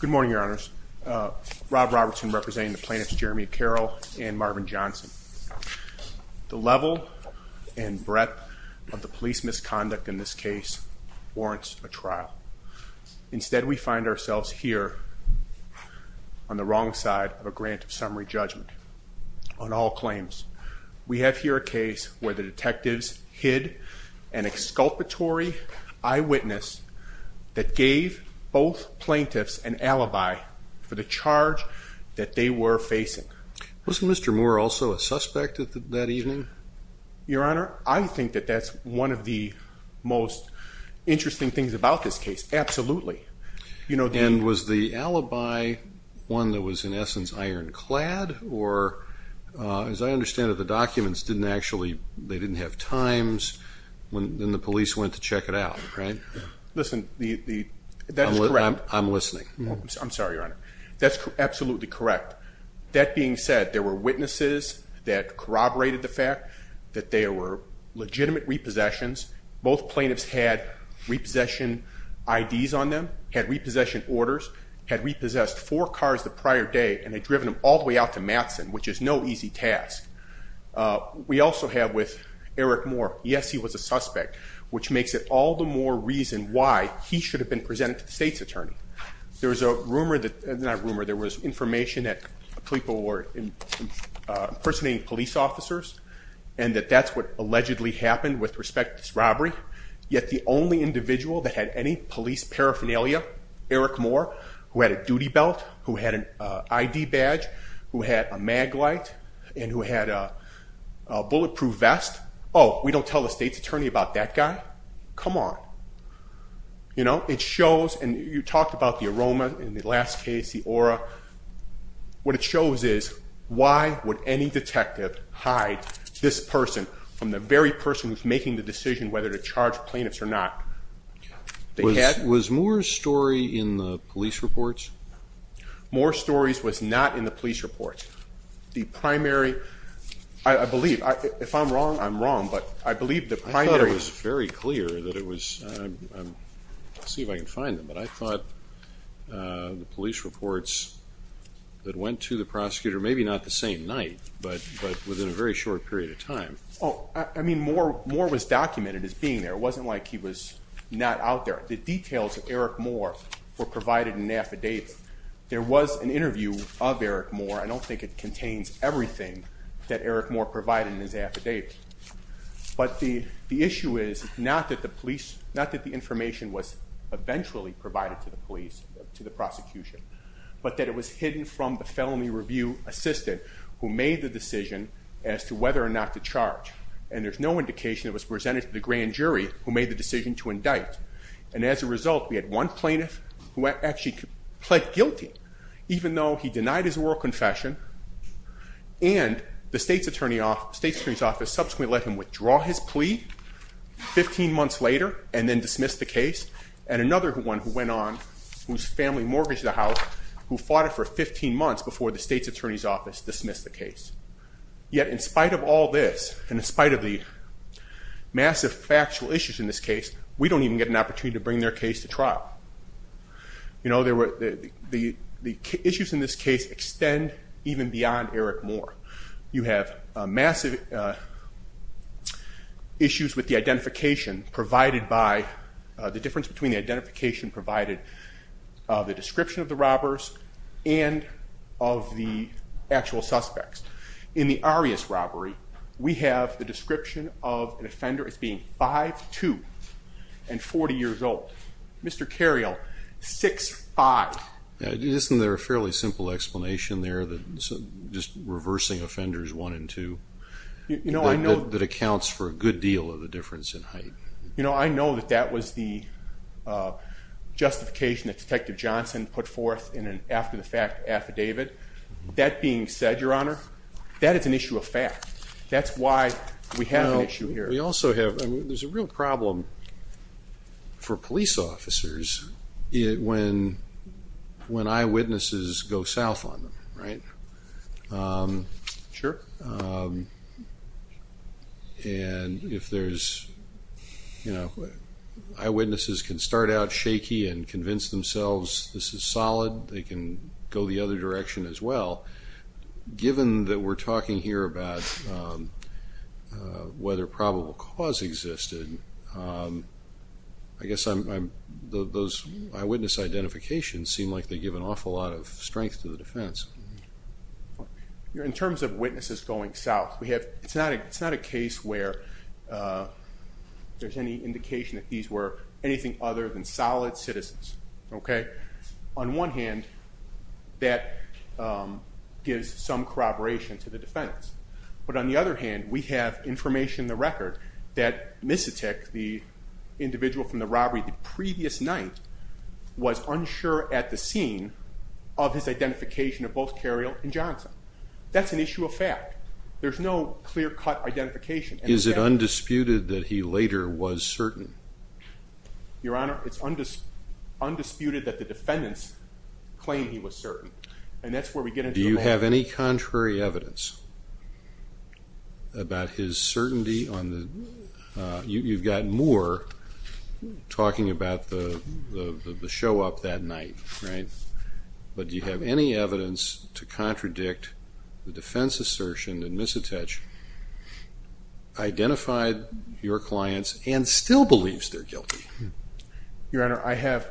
Good morning your honors. Rob Robertson representing the plaintiffs Jeremy Carroll and Marvin Johnson. The level and breadth of the police misconduct in this case warrants a trial. Instead we find ourselves here on the wrong side of a grant of summary judgment on all claims. We have here a case where the detectives hid an exculpatory eyewitness that gave both plaintiffs an alibi for the charge that they were facing. Was Mr. Moore also a suspect that evening? Your honor, I think that that's one of the most interesting things about this case absolutely. And was the alibi one that was in essence ironclad or as I when the police went to check it out right? Listen, that's correct. I'm listening. I'm sorry your honor. That's absolutely correct. That being said there were witnesses that corroborated the fact that they were legitimate repossessions. Both plaintiffs had repossession IDs on them, had repossession orders, had repossessed four cars the prior day, and they'd driven them all the way out to Matson, which is no easy task. We also have with Eric Moore, yes he was a suspect, which makes it all the more reason why he should have been presented to the state's attorney. There was a rumor that, not rumor, there was information that people were impersonating police officers and that that's what allegedly happened with respect to this robbery. Yet the only individual that had any police paraphernalia, Eric Moore, who had a duty badge, who had a mag light, and who had a bulletproof vest, oh we don't tell the state's attorney about that guy? Come on. You know it shows and you talked about the aroma in the last case, the aura. What it shows is why would any detective hide this person from the very person who's making the decision whether to charge plaintiffs or not. Was Moore's story in the police reports? Moore's story was not in the police reports. The primary, I believe, if I'm wrong I'm wrong, but I believe the primary... I thought it was very clear that it was, see if I can find them, but I thought the police reports that went to the prosecutor, maybe not the same night, but within a very short period of time. Oh I mean Moore was documented as being there. It wasn't like he was not out there. The details of Eric Moore were I don't think it contains everything that Eric Moore provided in his affidavit, but the issue is not that the police, not that the information was eventually provided to the police, to the prosecution, but that it was hidden from the felony review assistant who made the decision as to whether or not to charge. And there's no indication it was presented to the grand jury who made the decision to indict. And as a result we had one plaintiff who actually pled guilty, even though he denied his oral confession, and the state's attorney's office subsequently let him withdraw his plea 15 months later and then dismissed the case. And another one who went on, whose family mortgaged the house, who fought it for 15 months before the state's attorney's office dismissed the case. Yet in spite of all this, and in spite of the massive factual issues in this case, we don't even get an opportunity to bring their case to trial. You know, the issues in this case extend even beyond Eric Moore. You have massive issues with the identification provided by, the difference between identification provided, the description of the robbers, and of the actual suspects. In the Arias robbery, we have the description of an offender as being 5'2", and 40 years old. Mr. Cario, 6'5". Isn't there a fairly simple explanation there that's just reversing offenders 1 and 2, that accounts for a good deal of the difference in height? You know, I know that that was the justification that Detective Johnson put forth in an after the fact affidavit. That being said, Your Honor, that is an issue of fact. That's why we have an issue here. We also have, I mean, there's a real problem for police officers when eyewitnesses go south on them, right? Sure. And if there's, you know, eyewitnesses can start out shaky and convince themselves this is solid, they can go the other direction as well. Given that we're talking here about whether probable cause existed, I guess those eyewitness identifications seem like they give an awful lot of strength to the defense. In terms of witnesses going south, we have, it's not a case where there's any indication that these were anything other than solid citizens. Okay? On one hand, that gives some corroboration to the defense. But on the other hand, we have information in the record that Misetich, the individual from the robbery the previous night, was unsure at the scene of his identification of both Carriel and Johnson. That's an issue of fact. There's no clear cut identification. Is it undisputed that he later was certain? Your Honor, it's undisputed that the defendants claim he was certain. And that's where we get into the... Do you have any contrary evidence about his certainty on the... You've gotten more talking about the show up that night, right? But do you have any evidence to contradict the defense assertion that he believes they're guilty? Your Honor, I have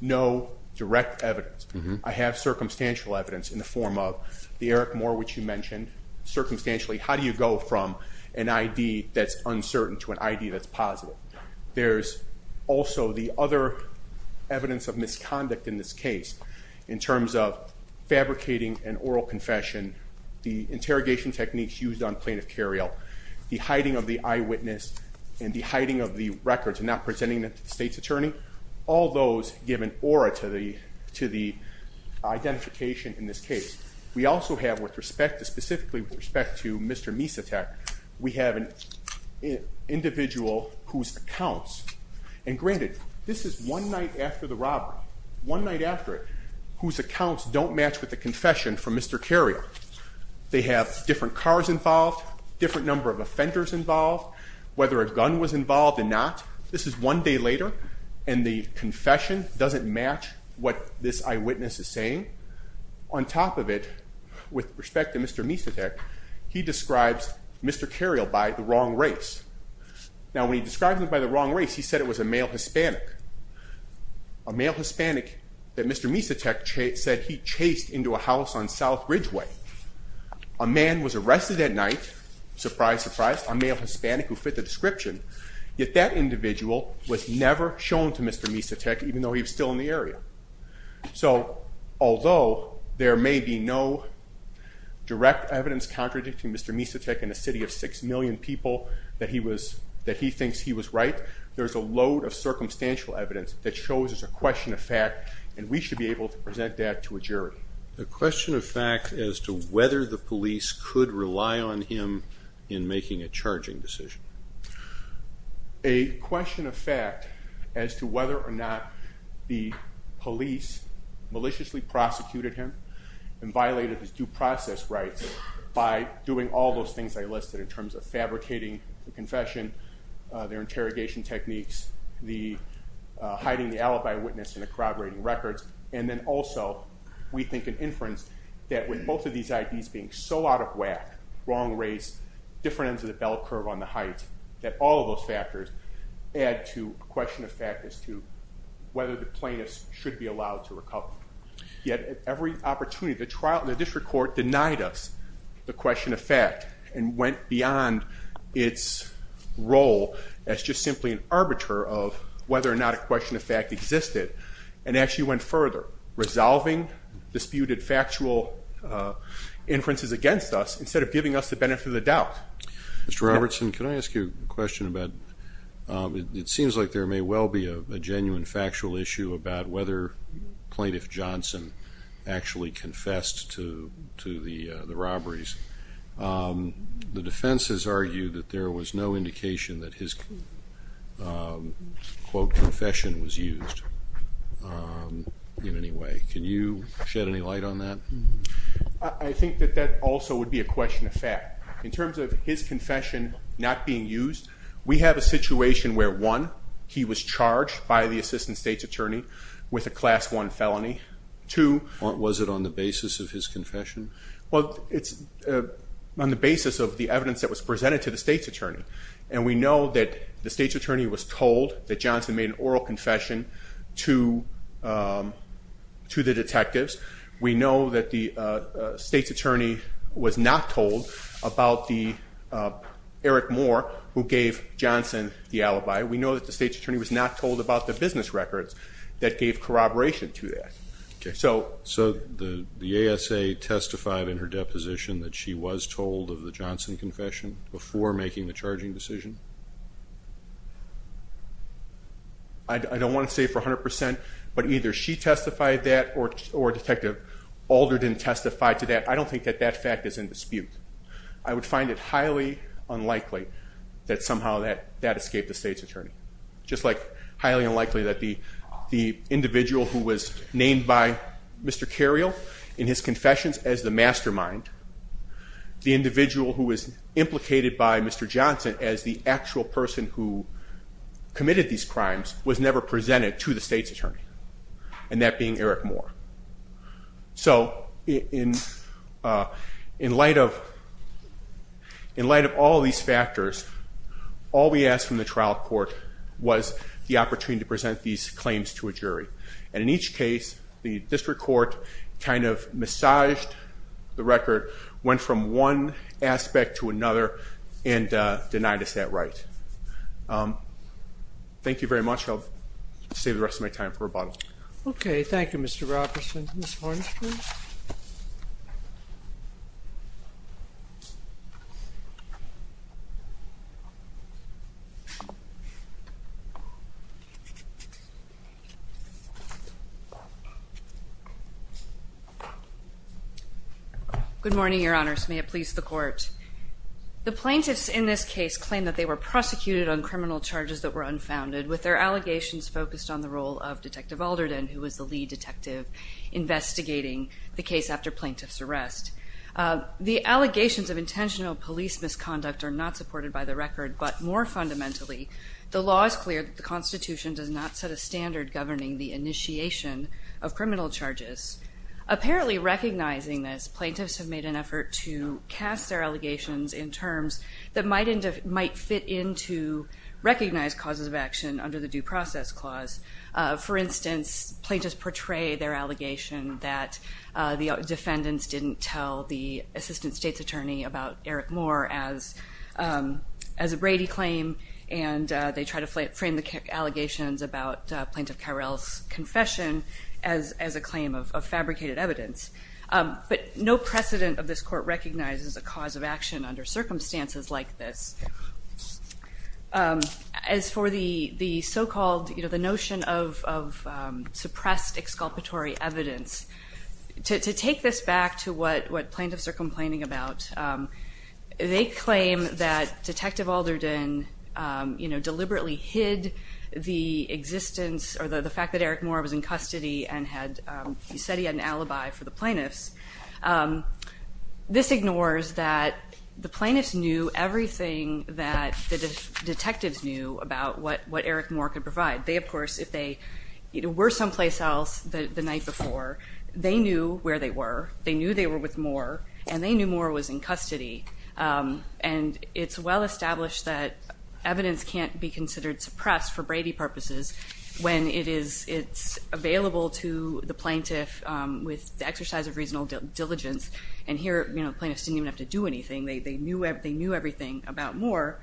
no direct evidence. I have circumstantial evidence in the form of the Eric Moore, which you mentioned. Circumstantially, how do you go from an ID that's uncertain to an ID that's positive? There's also the other evidence of misconduct in this case in terms of fabricating an oral confession, the interrogation techniques used on the records and not presenting it to the state's attorney. All those give an aura to the identification in this case. We also have, with respect to... Specifically with respect to Mr. Misetek, we have an individual whose accounts... And granted, this is one night after the robbery, one night after it, whose accounts don't match with the confession from Mr. Carriel. They have different cars involved, different number of offenders involved. Whether a gun was involved or not, this is one day later and the confession doesn't match what this eyewitness is saying. On top of it, with respect to Mr. Misetek, he describes Mr. Carriel by the wrong race. Now, when he describes him by the wrong race, he said it was a male Hispanic. A male Hispanic that Mr. Misetek said he chased into a house on South Ridgeway. A man was arrested that night, surprise, surprise. A male Hispanic who fit the description, yet that individual was never shown to Mr. Misetek, even though he was still in the area. So, although there may be no direct evidence contradicting Mr. Misetek in a city of six million people that he was, that he thinks he was right, there's a load of circumstantial evidence that shows there's a question of fact and we should be able to present that to a jury. The question of fact as to whether the police maliciously prosecuted him and violated his due process rights by doing all those things I listed in terms of fabricating the confession, their interrogation techniques, the hiding the alibi witness and corroborating records, and then also, we think an inference that with both of these IDs being so out of whack, wrong race, different encyclopedias, we should be able to present that to a bell curve on the height that all of those factors add to a question of fact as to whether the plaintiffs should be allowed to recover. Yet, at every opportunity, the trial, the district court denied us the question of fact and went beyond its role as just simply an arbiter of whether or not a question of fact existed and actually went further, resolving disputed factual inferences against us instead of giving us the benefit of the doubt. Mr. Robertson, can I ask you a question about, it seems like there may well be a genuine factual issue about whether plaintiff Johnson actually confessed to the robberies. The defense has argued that there was no indication that his quote confession was also would be a question of fact. In terms of his confession not being used, we have a situation where one, he was charged by the assistant state's attorney with a class one felony. Two... Was it on the basis of his confession? Well, it's on the basis of the evidence that was presented to the state's attorney. And we know that the state's attorney was told that Johnson made an oral confession to the detectives. We know that the state's attorney was not told about the Eric Moore who gave Johnson the alibi. We know that the state's attorney was not told about the business records that gave corroboration to that. So the ASA testified in her deposition that she was told of the Johnson confession before making the charging decision. I don't want to say for 100%, but either she testified that or Detective Alder didn't testify to that. I don't think that that fact is in dispute. I would find it highly unlikely that somehow that escaped the state's attorney. Just like highly unlikely that the individual who was named by Mr. Cariol in his confessions as the mastermind, the indicated by Mr. Johnson as the actual person who committed these crimes, was never presented to the state's attorney. And that being Eric Moore. So in in light of in light of all these factors, all we asked from the trial court was the opportunity to present these claims to a jury. And in each case, the district court kind of massaged the record, went from one aspect to another, and denied us that right. Thank you very much. I'll save the rest of my time for rebuttal. Okay, thank you Mr. Robertson. Good morning, your honors. May it please the court. The plaintiffs in this case claim that they were prosecuted on criminal charges that were unfounded, with their allegations focused on the role of Detective Alderden, who was the lead detective investigating the case after plaintiff's arrest. The allegations of intentional police misconduct are not supported by the record, but more fundamentally, the law is clear that the Constitution does not set a standard governing the initiation of criminal charges. Apparently recognizing this, plaintiffs have made an effort to cast their allegations in terms that might end up might fit into recognized causes of action under the Due Process Clause. For instance, plaintiffs portray their allegation that the defendants didn't tell the assistant state's attorney about Eric Moore as as a Brady claim, and they try to frame the allegations about Plaintiff Carrell's confession as a claim of fabricated evidence. But no precedent of this court recognizes a cause of action under circumstances like this. As for the so-called, you know, the notion of suppressed exculpatory evidence, to take this back to what what plaintiffs are complaining about, they claim that Detective Alderden, you deliberately hid the existence, or the fact that Eric Moore was in custody and had, he said he had an alibi for the plaintiffs. This ignores that the plaintiffs knew everything that the detectives knew about what what Eric Moore could provide. They, of course, if they were someplace else the night before, they knew where they were, they knew they were with Moore, and they knew Moore was in custody. And it's well established that evidence can't be considered suppressed for Brady purposes when it is it's available to the plaintiff with the exercise of reasonable diligence. And here, you know, plaintiffs didn't even have to do anything. They knew everything about Moore.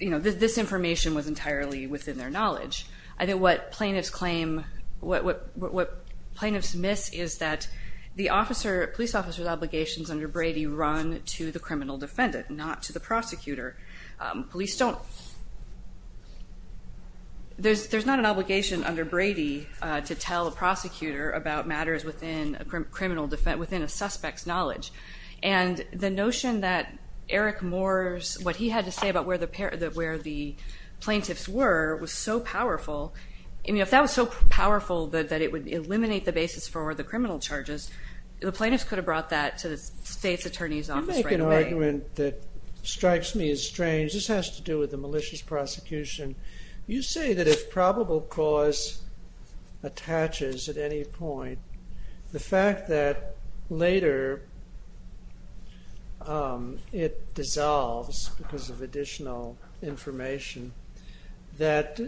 You know, this information was entirely within their knowledge. I think what plaintiffs claim, what plaintiffs miss is that the officer police officers obligations under Brady run to the criminal defendant, not to the prosecutor. Police don't, there's not an obligation under Brady to tell a prosecutor about matters within a criminal defense, within a suspect's knowledge. And the notion that Eric Moore's, what he had to say about where the plaintiffs were, was so powerful. I mean, if that was so powerful that it would eliminate the basis for the criminal charges, the courts could have brought that to the state's attorney's office right away. You make an argument that strikes me as strange. This has to do with the malicious prosecution. You say that if probable cause attaches at any point, the fact that later it dissolves because of additional information, that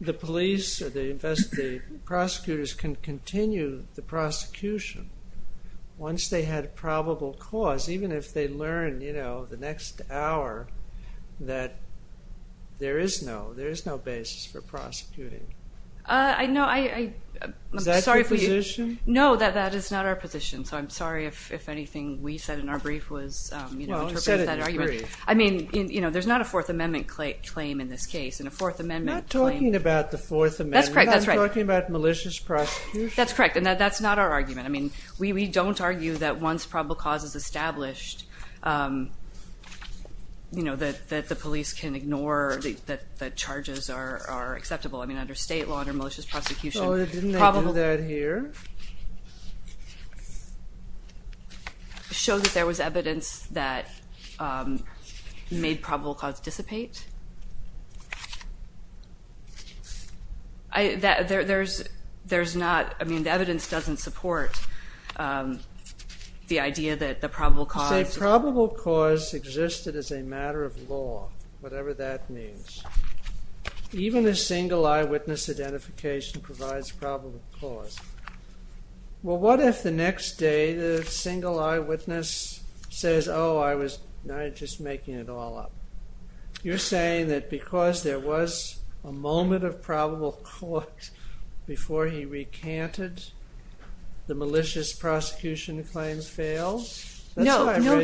the police or the investigators, the prosecutors can continue the prosecution once they had a probable cause, even if they learn, you know, the next hour that there is no, there is no basis for prosecuting. I know, I'm sorry. Is that your position? No, that is not our position. So I'm sorry if anything we said in our brief was, you know, I mean, you know, there's not a Fourth Amendment claim in this case. In a Fourth Amendment. That's correct, that's right. I'm talking about malicious prosecution. That's correct, and that's not our argument. I mean, we don't argue that once probable cause is established, you know, that the police can ignore, that the charges are acceptable. I mean, under state law, under malicious prosecution. Oh, didn't they do that here? Show that there was evidence that made probable cause dissipate? There's not, I mean, the evidence doesn't support the idea that the probable cause... You say probable cause existed as a matter of law, whatever that means. Even a single eyewitness identification provides probable cause. Well, what if the next day the single eyewitness says, oh, I was just making it all up? You're saying that because there was a moment of probable cause before he recanted, the malicious prosecution claims failed? No, no,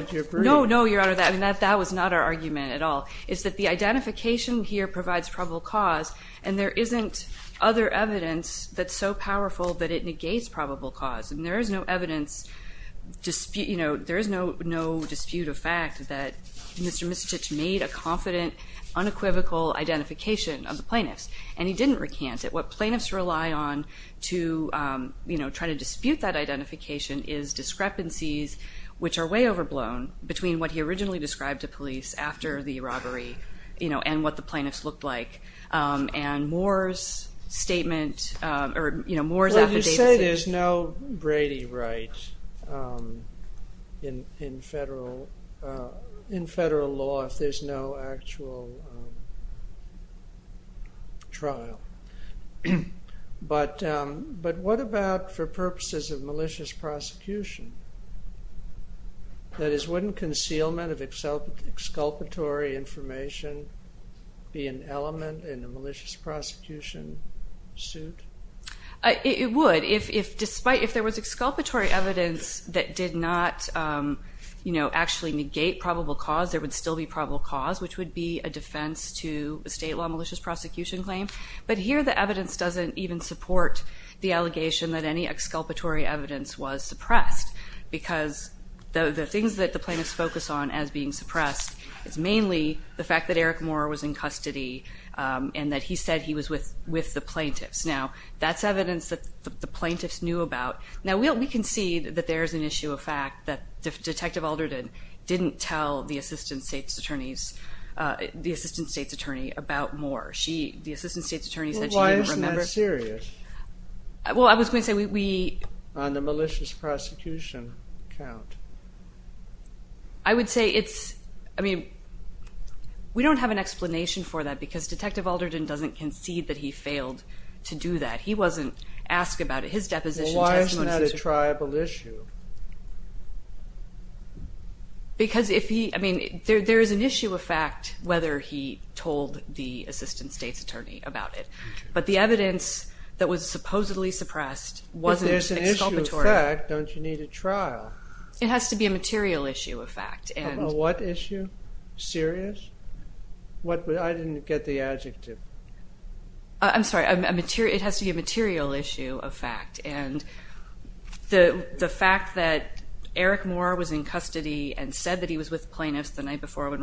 your honor, that was not our argument at all. It's that the identification here provides probable cause, and there isn't other evidence that's so powerful that it negates probable cause. And there is no evidence dispute, you know, there is no no dispute of fact that Mr. Misicich made a confident, unequivocal identification of the plaintiffs. And he didn't recant it. What plaintiffs rely on to, you know, try to dispute that identification is discrepancies which are way overblown between what he originally described to police after the robbery, you know, and what the plaintiffs looked like. And Moore's statement, or you know, Moore's affidavits... Well, you say there's no Brady right in federal law if there's no actual trial. But what about for purposes of malicious prosecution? That is, wouldn't concealment of exculpatory information be an element in the malicious prosecution suit? It would, if despite, if there was exculpatory evidence that did not, you know, actually negate probable cause, there would still be probable cause, which would be a defense to a state law malicious prosecution claim. But here the evidence doesn't even support the allegation that any exculpatory evidence was suppressed. Because the things that the plaintiffs focus on as being suppressed is mainly the fact that Eric Moore was in custody and that he said he was with the plaintiffs. Now, that's evidence that the plaintiffs knew about. Now, we can see that there's an issue of fact that Detective Alderton didn't tell the assistant state's attorneys, the assistant state's attorney, about Moore. She, the assistant state's attorney said she didn't remember. This is serious. Well, I was going to say we... On the malicious prosecution count. I would say it's, I mean, we don't have an explanation for that because Detective Alderton doesn't concede that he failed to do that. He wasn't asked about it. His deposition... Why isn't that a tribal issue? Because if he, I mean, there is an issue of fact whether he told the assistant state's attorney about it. But the evidence that was supposedly suppressed wasn't exculpatory. If there's an issue of fact, don't you need a trial? It has to be a material issue of fact. A what issue? Serious? I didn't get the adjective. I'm sorry, it has to be a material issue of fact. And the fact that Eric Moore was in custody and said that he was with plaintiffs the night before when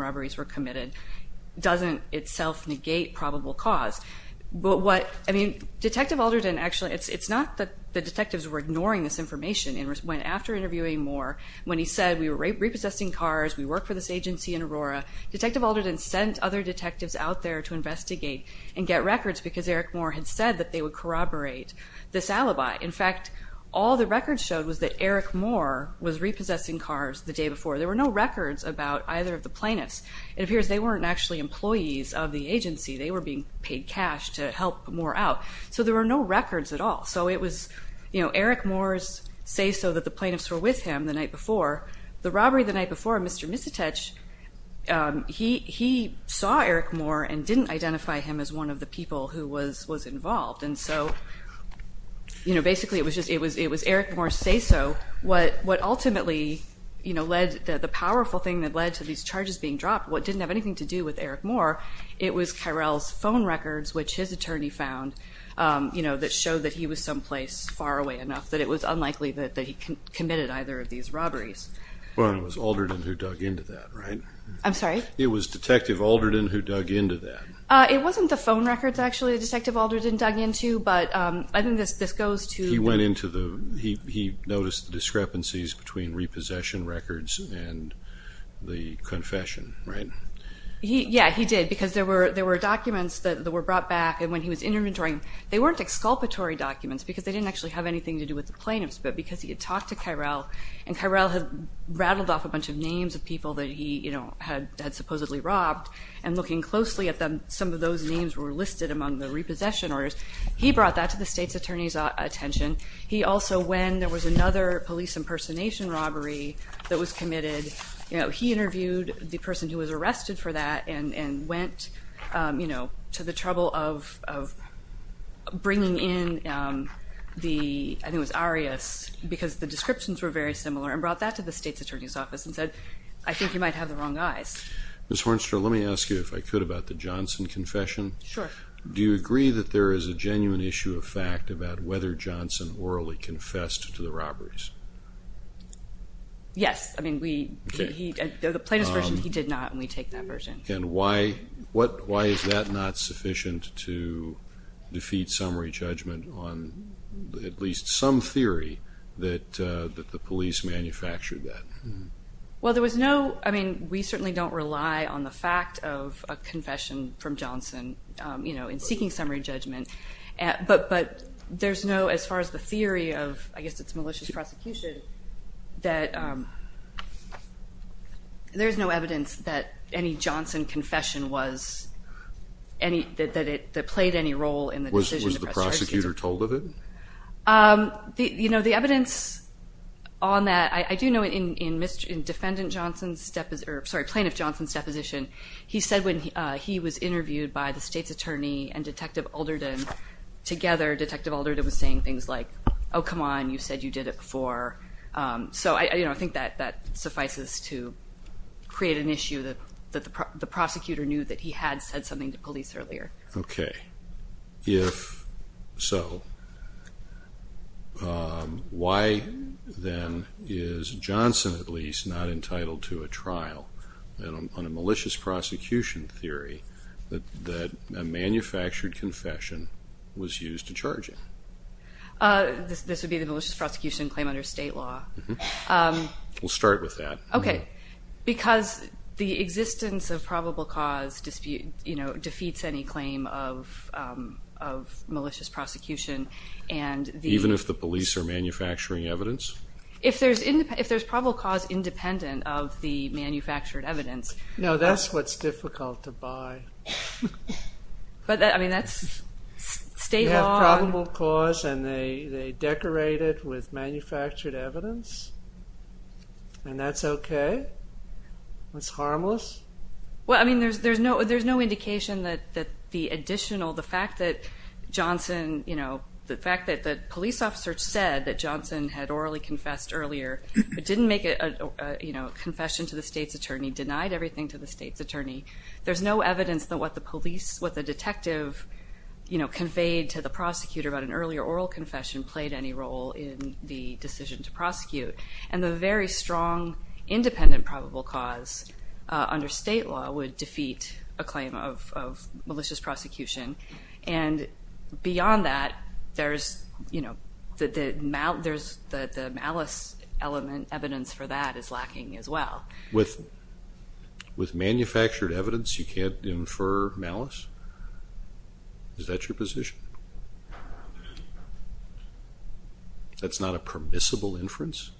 But what, I mean, Detective Alderton actually, it's not that the detectives were ignoring this information. It was when after interviewing Moore, when he said we were repossessing cars, we work for this agency in Aurora, Detective Alderton sent other detectives out there to investigate and get records because Eric Moore had said that they would corroborate this alibi. In fact, all the records showed was that Eric Moore was repossessing cars the day before. There were no records about either of the plaintiffs. It appears they weren't actually employees of the agency. They were being paid cash. They were being paid cash to help Moore out. So there were no records at all. So it was Eric Moore's say-so that the plaintiffs were with him the night before. The robbery the night before, Mr. Misitech, he saw Eric Moore and didn't identify him as one of the people who was involved. And so, you know, basically it was Eric Moore's say-so. What ultimately, you know, led, the powerful thing that led to these charges being dropped, what didn't have anything to do with Eric Moore, it was Kyrell's phone records, which his attorney found, you know, that showed that he was someplace far away enough that it was unlikely that he committed either of these robberies. Well, it was Alderton who dug into that, right? I'm sorry? It was Detective Alderton who dug into that. It wasn't the phone records, actually, that Detective Alderton dug into, but I think this goes to the- He went into the, he noticed the discrepancies between repossession records and the confession, right? Yeah, he did, because there were documents that were brought back, and when he was interviewing, they weren't exculpatory documents, because they didn't actually have anything to do with the plaintiffs, but because he had talked to Kyrell, and Kyrell had rattled off a bunch of names of people that he, you know, had supposedly robbed, and looking closely at them, some of those names were listed among the repossession orders. He brought that to the state's attorney's attention. He also, when there was another police impersonation robbery that was committed, you know, he interviewed the person who was arrested for that and went, you know, to the trouble of bringing in the, I think it was Arias, because the descriptions were very similar, and brought that to the state's attorney's office and said, I think you might have the wrong eyes. Ms. Hornstra, let me ask you, if I could, about the Johnson confession. Sure. Do you agree that there is a genuine issue of fact about whether Johnson orally confessed to the robberies? Yes. I mean, we, he, the plaintiff's version, he did not, and we take that version. And why, what, why is that not sufficient to defeat summary judgment on at least some theory that the police manufactured that? Well, there was no, I mean, we certainly don't rely on the fact of a confession from Johnson, you know, in seeking summary judgment, but there's no, as far as the theory of, I guess it's malicious prosecution, that there's no evidence that any Johnson confession was any, that it played any role in the decision. Was the prosecutor told of it? You know, the evidence on that, I do know in defendant Johnson's, sorry, plaintiff Johnson's deposition, he said when he was interviewed by the state's attorney and Detective Ulderden, together, Detective Ulderden was saying things like, oh, come on, you said you did it before. So, you know, I think that suffices to create an issue that the prosecutor knew that he had said something to police earlier. Okay. If so, why then is Johnson, at least, not entitled to a trial on a malicious prosecution theory that a manufactured confession was used to charge him? This would be the malicious prosecution claim under state law. We'll start with that. Okay. Because the existence of probable cause, you know, defeats any claim of malicious prosecution. Even if the police are manufacturing evidence? If there's probable cause independent of the manufactured evidence. No, that's what's difficult to buy. But, I mean, that's state law. And they decorate it with manufactured evidence? And that's okay? That's harmless? Well, I mean, there's no indication that the additional, the fact that Johnson, you know, the fact that the police officer said that Johnson had orally confessed earlier, but didn't make a confession to the state's attorney, denied everything to the state's attorney. There's no evidence that what the police, what the detective, you know, conveyed to the prosecutor about an earlier oral confession played any role in the decision to prosecute. And the very strong independent probable cause under state law would defeat a claim of malicious prosecution. And beyond that, there's, you know, the malice element, evidence for that is lacking as well. With manufactured evidence, you can't infer malice? Is that your position? That's not a permissible inference?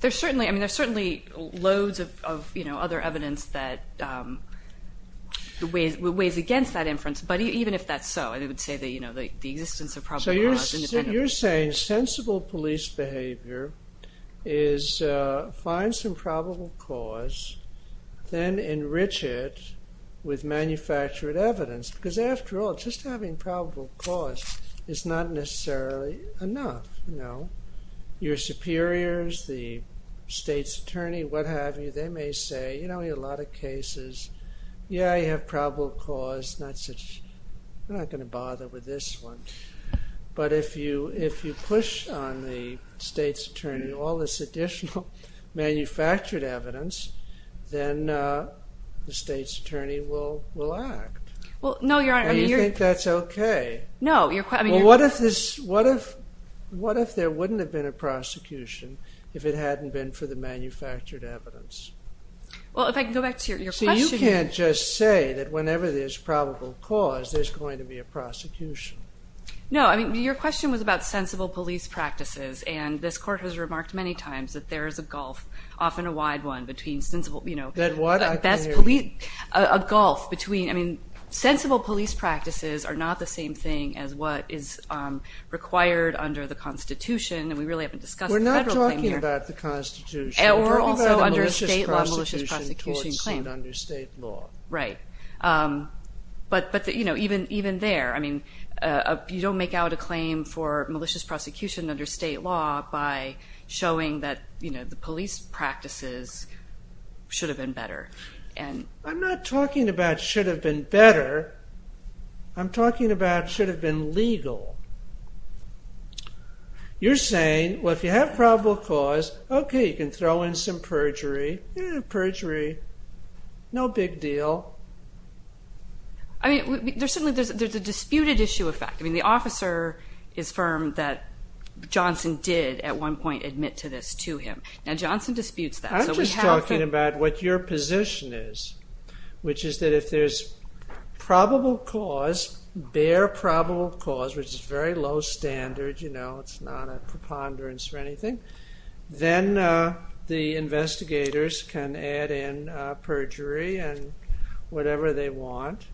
There's certainly, I mean, there's certainly loads of, you know, other evidence that weighs against that inference. But even if that's so, I would say that, you know, the existence of probable cause is independent. What you're saying, sensible police behavior is find some probable cause, then enrich it with manufactured evidence. Because after all, just having probable cause is not necessarily enough, you know. Your superiors, the state's attorney, what have you, they may say, you know, in a lot of cases, yeah, you have probable cause, not such, we're not going to bother with this one. But if you push on the state's attorney all this additional manufactured evidence, then the state's attorney will act. Well, no, Your Honor. And you think that's okay? No. Well, what if there wouldn't have been a prosecution if it hadn't been for the manufactured evidence? Well, if I can go back to your question. You can't just say that whenever there's probable cause, there's going to be a prosecution. No, I mean, your question was about sensible police practices. And this Court has remarked many times that there is a gulf, often a wide one, between sensible, you know. That what? A gulf between, I mean, sensible police practices are not the same thing as what is required under the Constitution. And we really haven't discussed the federal claim here. We're not talking about the Constitution. We're talking about a malicious prosecution towards an understate law. Right. But, you know, even there, I mean, you don't make out a claim for malicious prosecution under state law by showing that, you know, the police practices should have been better. I'm not talking about should have been better. I'm talking about should have been legal. You're saying, well, if you have probable cause, okay, you can throw in some perjury. Eh, perjury, no big deal. I mean, there's a disputed issue of fact. I mean, the officer is firm that Johnson did at one point admit to this to him. Now, Johnson disputes that. I'm just talking about what your position is, which is that if there's probable cause, which is very low standard, you know, it's not a preponderance or anything, then the investigators can add in perjury and whatever they want,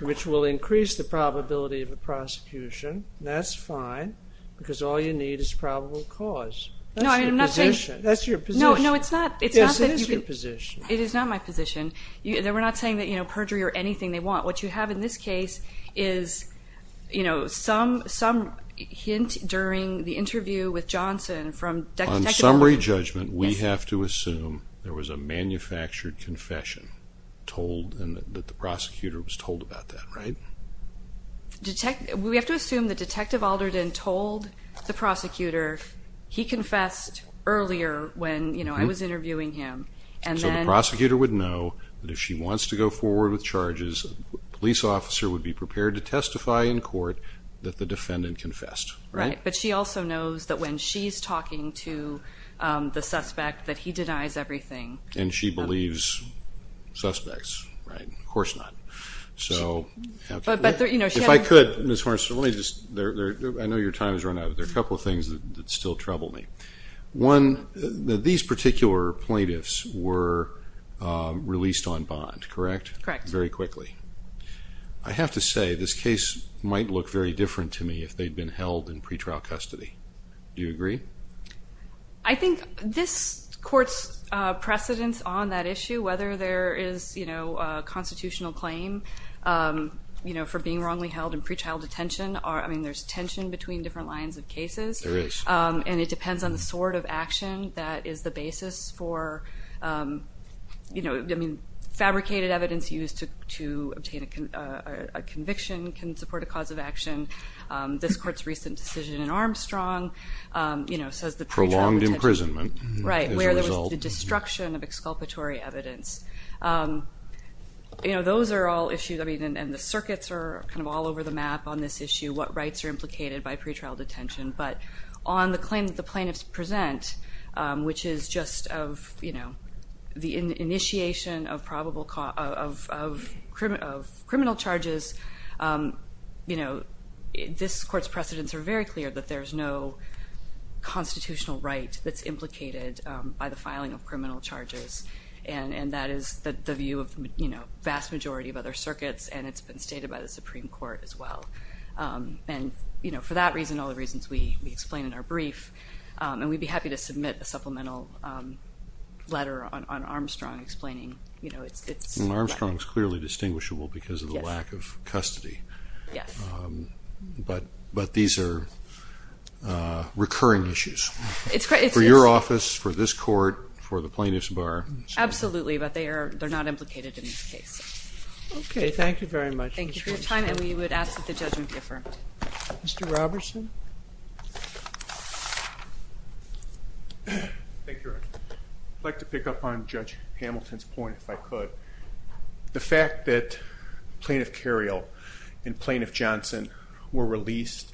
which will increase the probability of a prosecution. That's fine, because all you need is probable cause. No, I'm not saying. That's your position. No, no, it's not. Yes, it is your position. It is not my position. We're not saying that, you know, perjury or anything they want. What you have in this case is, you know, some hint during the interview with Johnson from Detective Alderton. On summary judgment, we have to assume there was a manufactured confession told and that the prosecutor was told about that, right? We have to assume that Detective Alderton told the prosecutor he confessed earlier when, you know, I was interviewing him. So the prosecutor would know that if she wants to go forward with charges, a police officer would be prepared to testify in court that the defendant confessed, right? Right, but she also knows that when she's talking to the suspect that he denies everything. And she believes suspects, right? Of course not. If I could, Ms. Horst, let me just, I know your time has run out, but there are a couple of things that still trouble me. One, these particular plaintiffs were released on bond, correct? Correct. Very quickly. I have to say, this case might look very different to me if they'd been held in pretrial custody. Do you agree? I think this court's precedence on that issue, whether there is, you know, a constitutional claim, you know, for being wrongly held in pretrial detention, I mean, there's tension between different lines of cases. There is. And it depends on the sort of action that is the basis for, you know, I mean, fabricated evidence used to obtain a conviction can support a cause of action. This court's recent decision in Armstrong, you know, says the pretrial detention. Prolonged imprisonment. Right, where there was the destruction of exculpatory evidence. You know, those are all issues, I mean, and the circuits are kind of all over the map on this issue, what rights are implicated by pretrial detention. But on the claim that the plaintiffs present, which is just of, you know, the initiation of criminal charges, you know, this court's precedence are very clear that there's no constitutional right that's implicated by the filing of criminal charges. And that is the view of, you know, the vast majority of other circuits, and it's been stated by the Supreme Court as well. And, you know, for that reason, all the reasons we explain in our brief, and we'd be happy to submit a supplemental letter on Armstrong explaining, you know, it's. Armstrong is clearly distinguishable because of the lack of custody. Yes. But these are recurring issues. It's great. For your office, for this court, for the plaintiffs bar. Absolutely, but they're not implicated in this case. Okay, thank you very much. Thank you for your time. And we would ask that the judgment be affirmed. Mr. Robertson. Thank you, Your Honor. I'd like to pick up on Judge Hamilton's point, if I could. The fact that Plaintiff Cariole and Plaintiff Johnson were released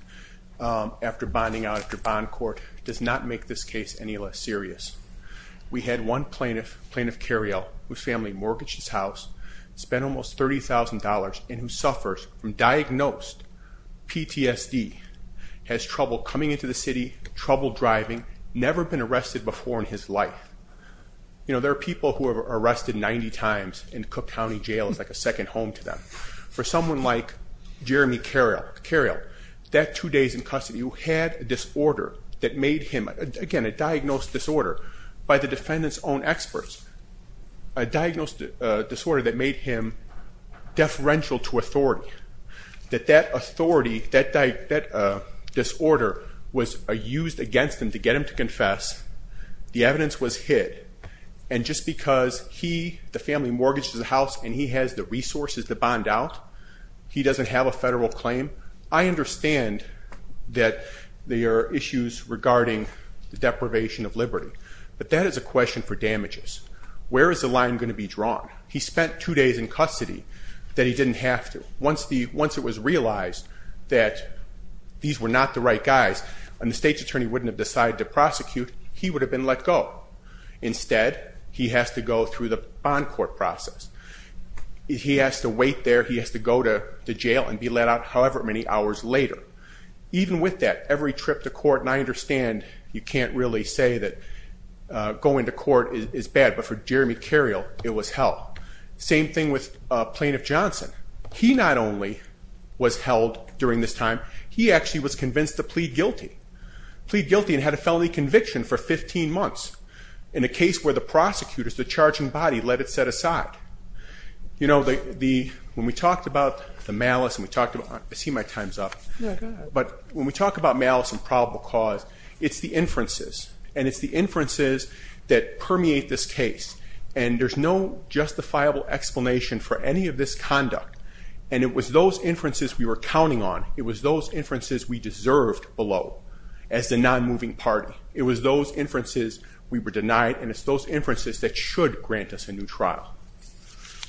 after bonding out at the bond court does not make this case any less serious. We had one plaintiff, Plaintiff Cariole, whose family mortgaged his house, spent almost $30,000, and who suffers from diagnosed PTSD, has trouble coming into the city, trouble driving, never been arrested before in his life. You know, there are people who are arrested 90 times and Cook County Jail is like a second home to them. For someone like Jeremy Cariole, that two days in custody, who had a disorder that made him, again, a diagnosed disorder by the defendant's own experts, a diagnosed disorder that made him deferential to authority, that that authority, that disorder was used against him to get him to confess, the evidence was hid. And just because he, the family mortgaged his house and he has the resources to bond out, he doesn't have a federal claim, I understand that there are issues regarding the deprivation of liberty. But that is a question for damages. Where is the line going to be drawn? He spent two days in custody that he didn't have to. Once it was realized that these were not the right guys, and the state's attorney wouldn't have decided to prosecute, he would have been let go. Instead, he has to go through the bond court process. He has to wait there, he has to go to jail and be let out however many hours later. Even with that, every trip to court, and I understand you can't really say that going to court is bad, but for Jeremy Cariole, it was hell. Same thing with Plaintiff Johnson. He not only was held during this time, he actually was convinced to plead guilty. Plead guilty and had a felony conviction for 15 months. In a case where the prosecutors, the charging body, let it set aside. When we talked about the malice, I see my time's up, but when we talk about malice and probable cause, it's the inferences. It's the inferences that permeate this case. There's no justifiable explanation for any of this conduct. It was those inferences we were counting on. It was those inferences we deserved below as the non-moving party. It was those inferences we were denied, and it's those inferences that should grant us a new trial.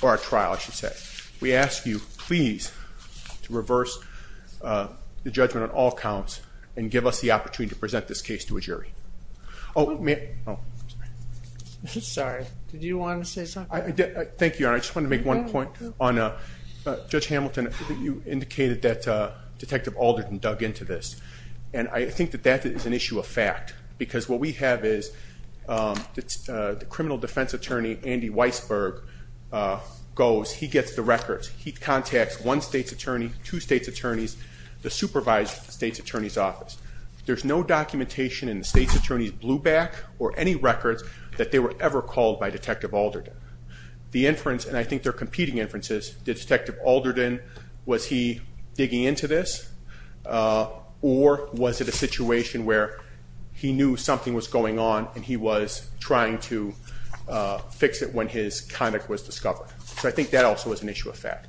Or a trial, I should say. We ask you, please, to reverse the judgment on all counts and give us the opportunity to present this case to a jury. Sorry, did you want to say something? Thank you, Your Honor. I just wanted to make one point on Judge Hamilton. You indicated that Detective Alderton dug into this, and I think that that is an issue of fact because what we have is the criminal defense attorney, Andy Weisberg, goes. He gets the records. He contacts one state's attorney, two state's attorneys, the supervised state's attorney's office. There's no documentation in the state's attorney's blue back or any records that they were ever called by Detective Alderton. The inference, and I think they're competing inferences, that Detective Alderton, was he digging into this or was it a situation where he knew something was going on and he was trying to fix it when his conduct was discovered? So I think that also is an issue of fact.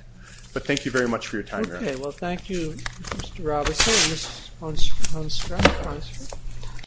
But thank you very much for your time, Your Honor. Okay, well, thank you, Mr. Robinson.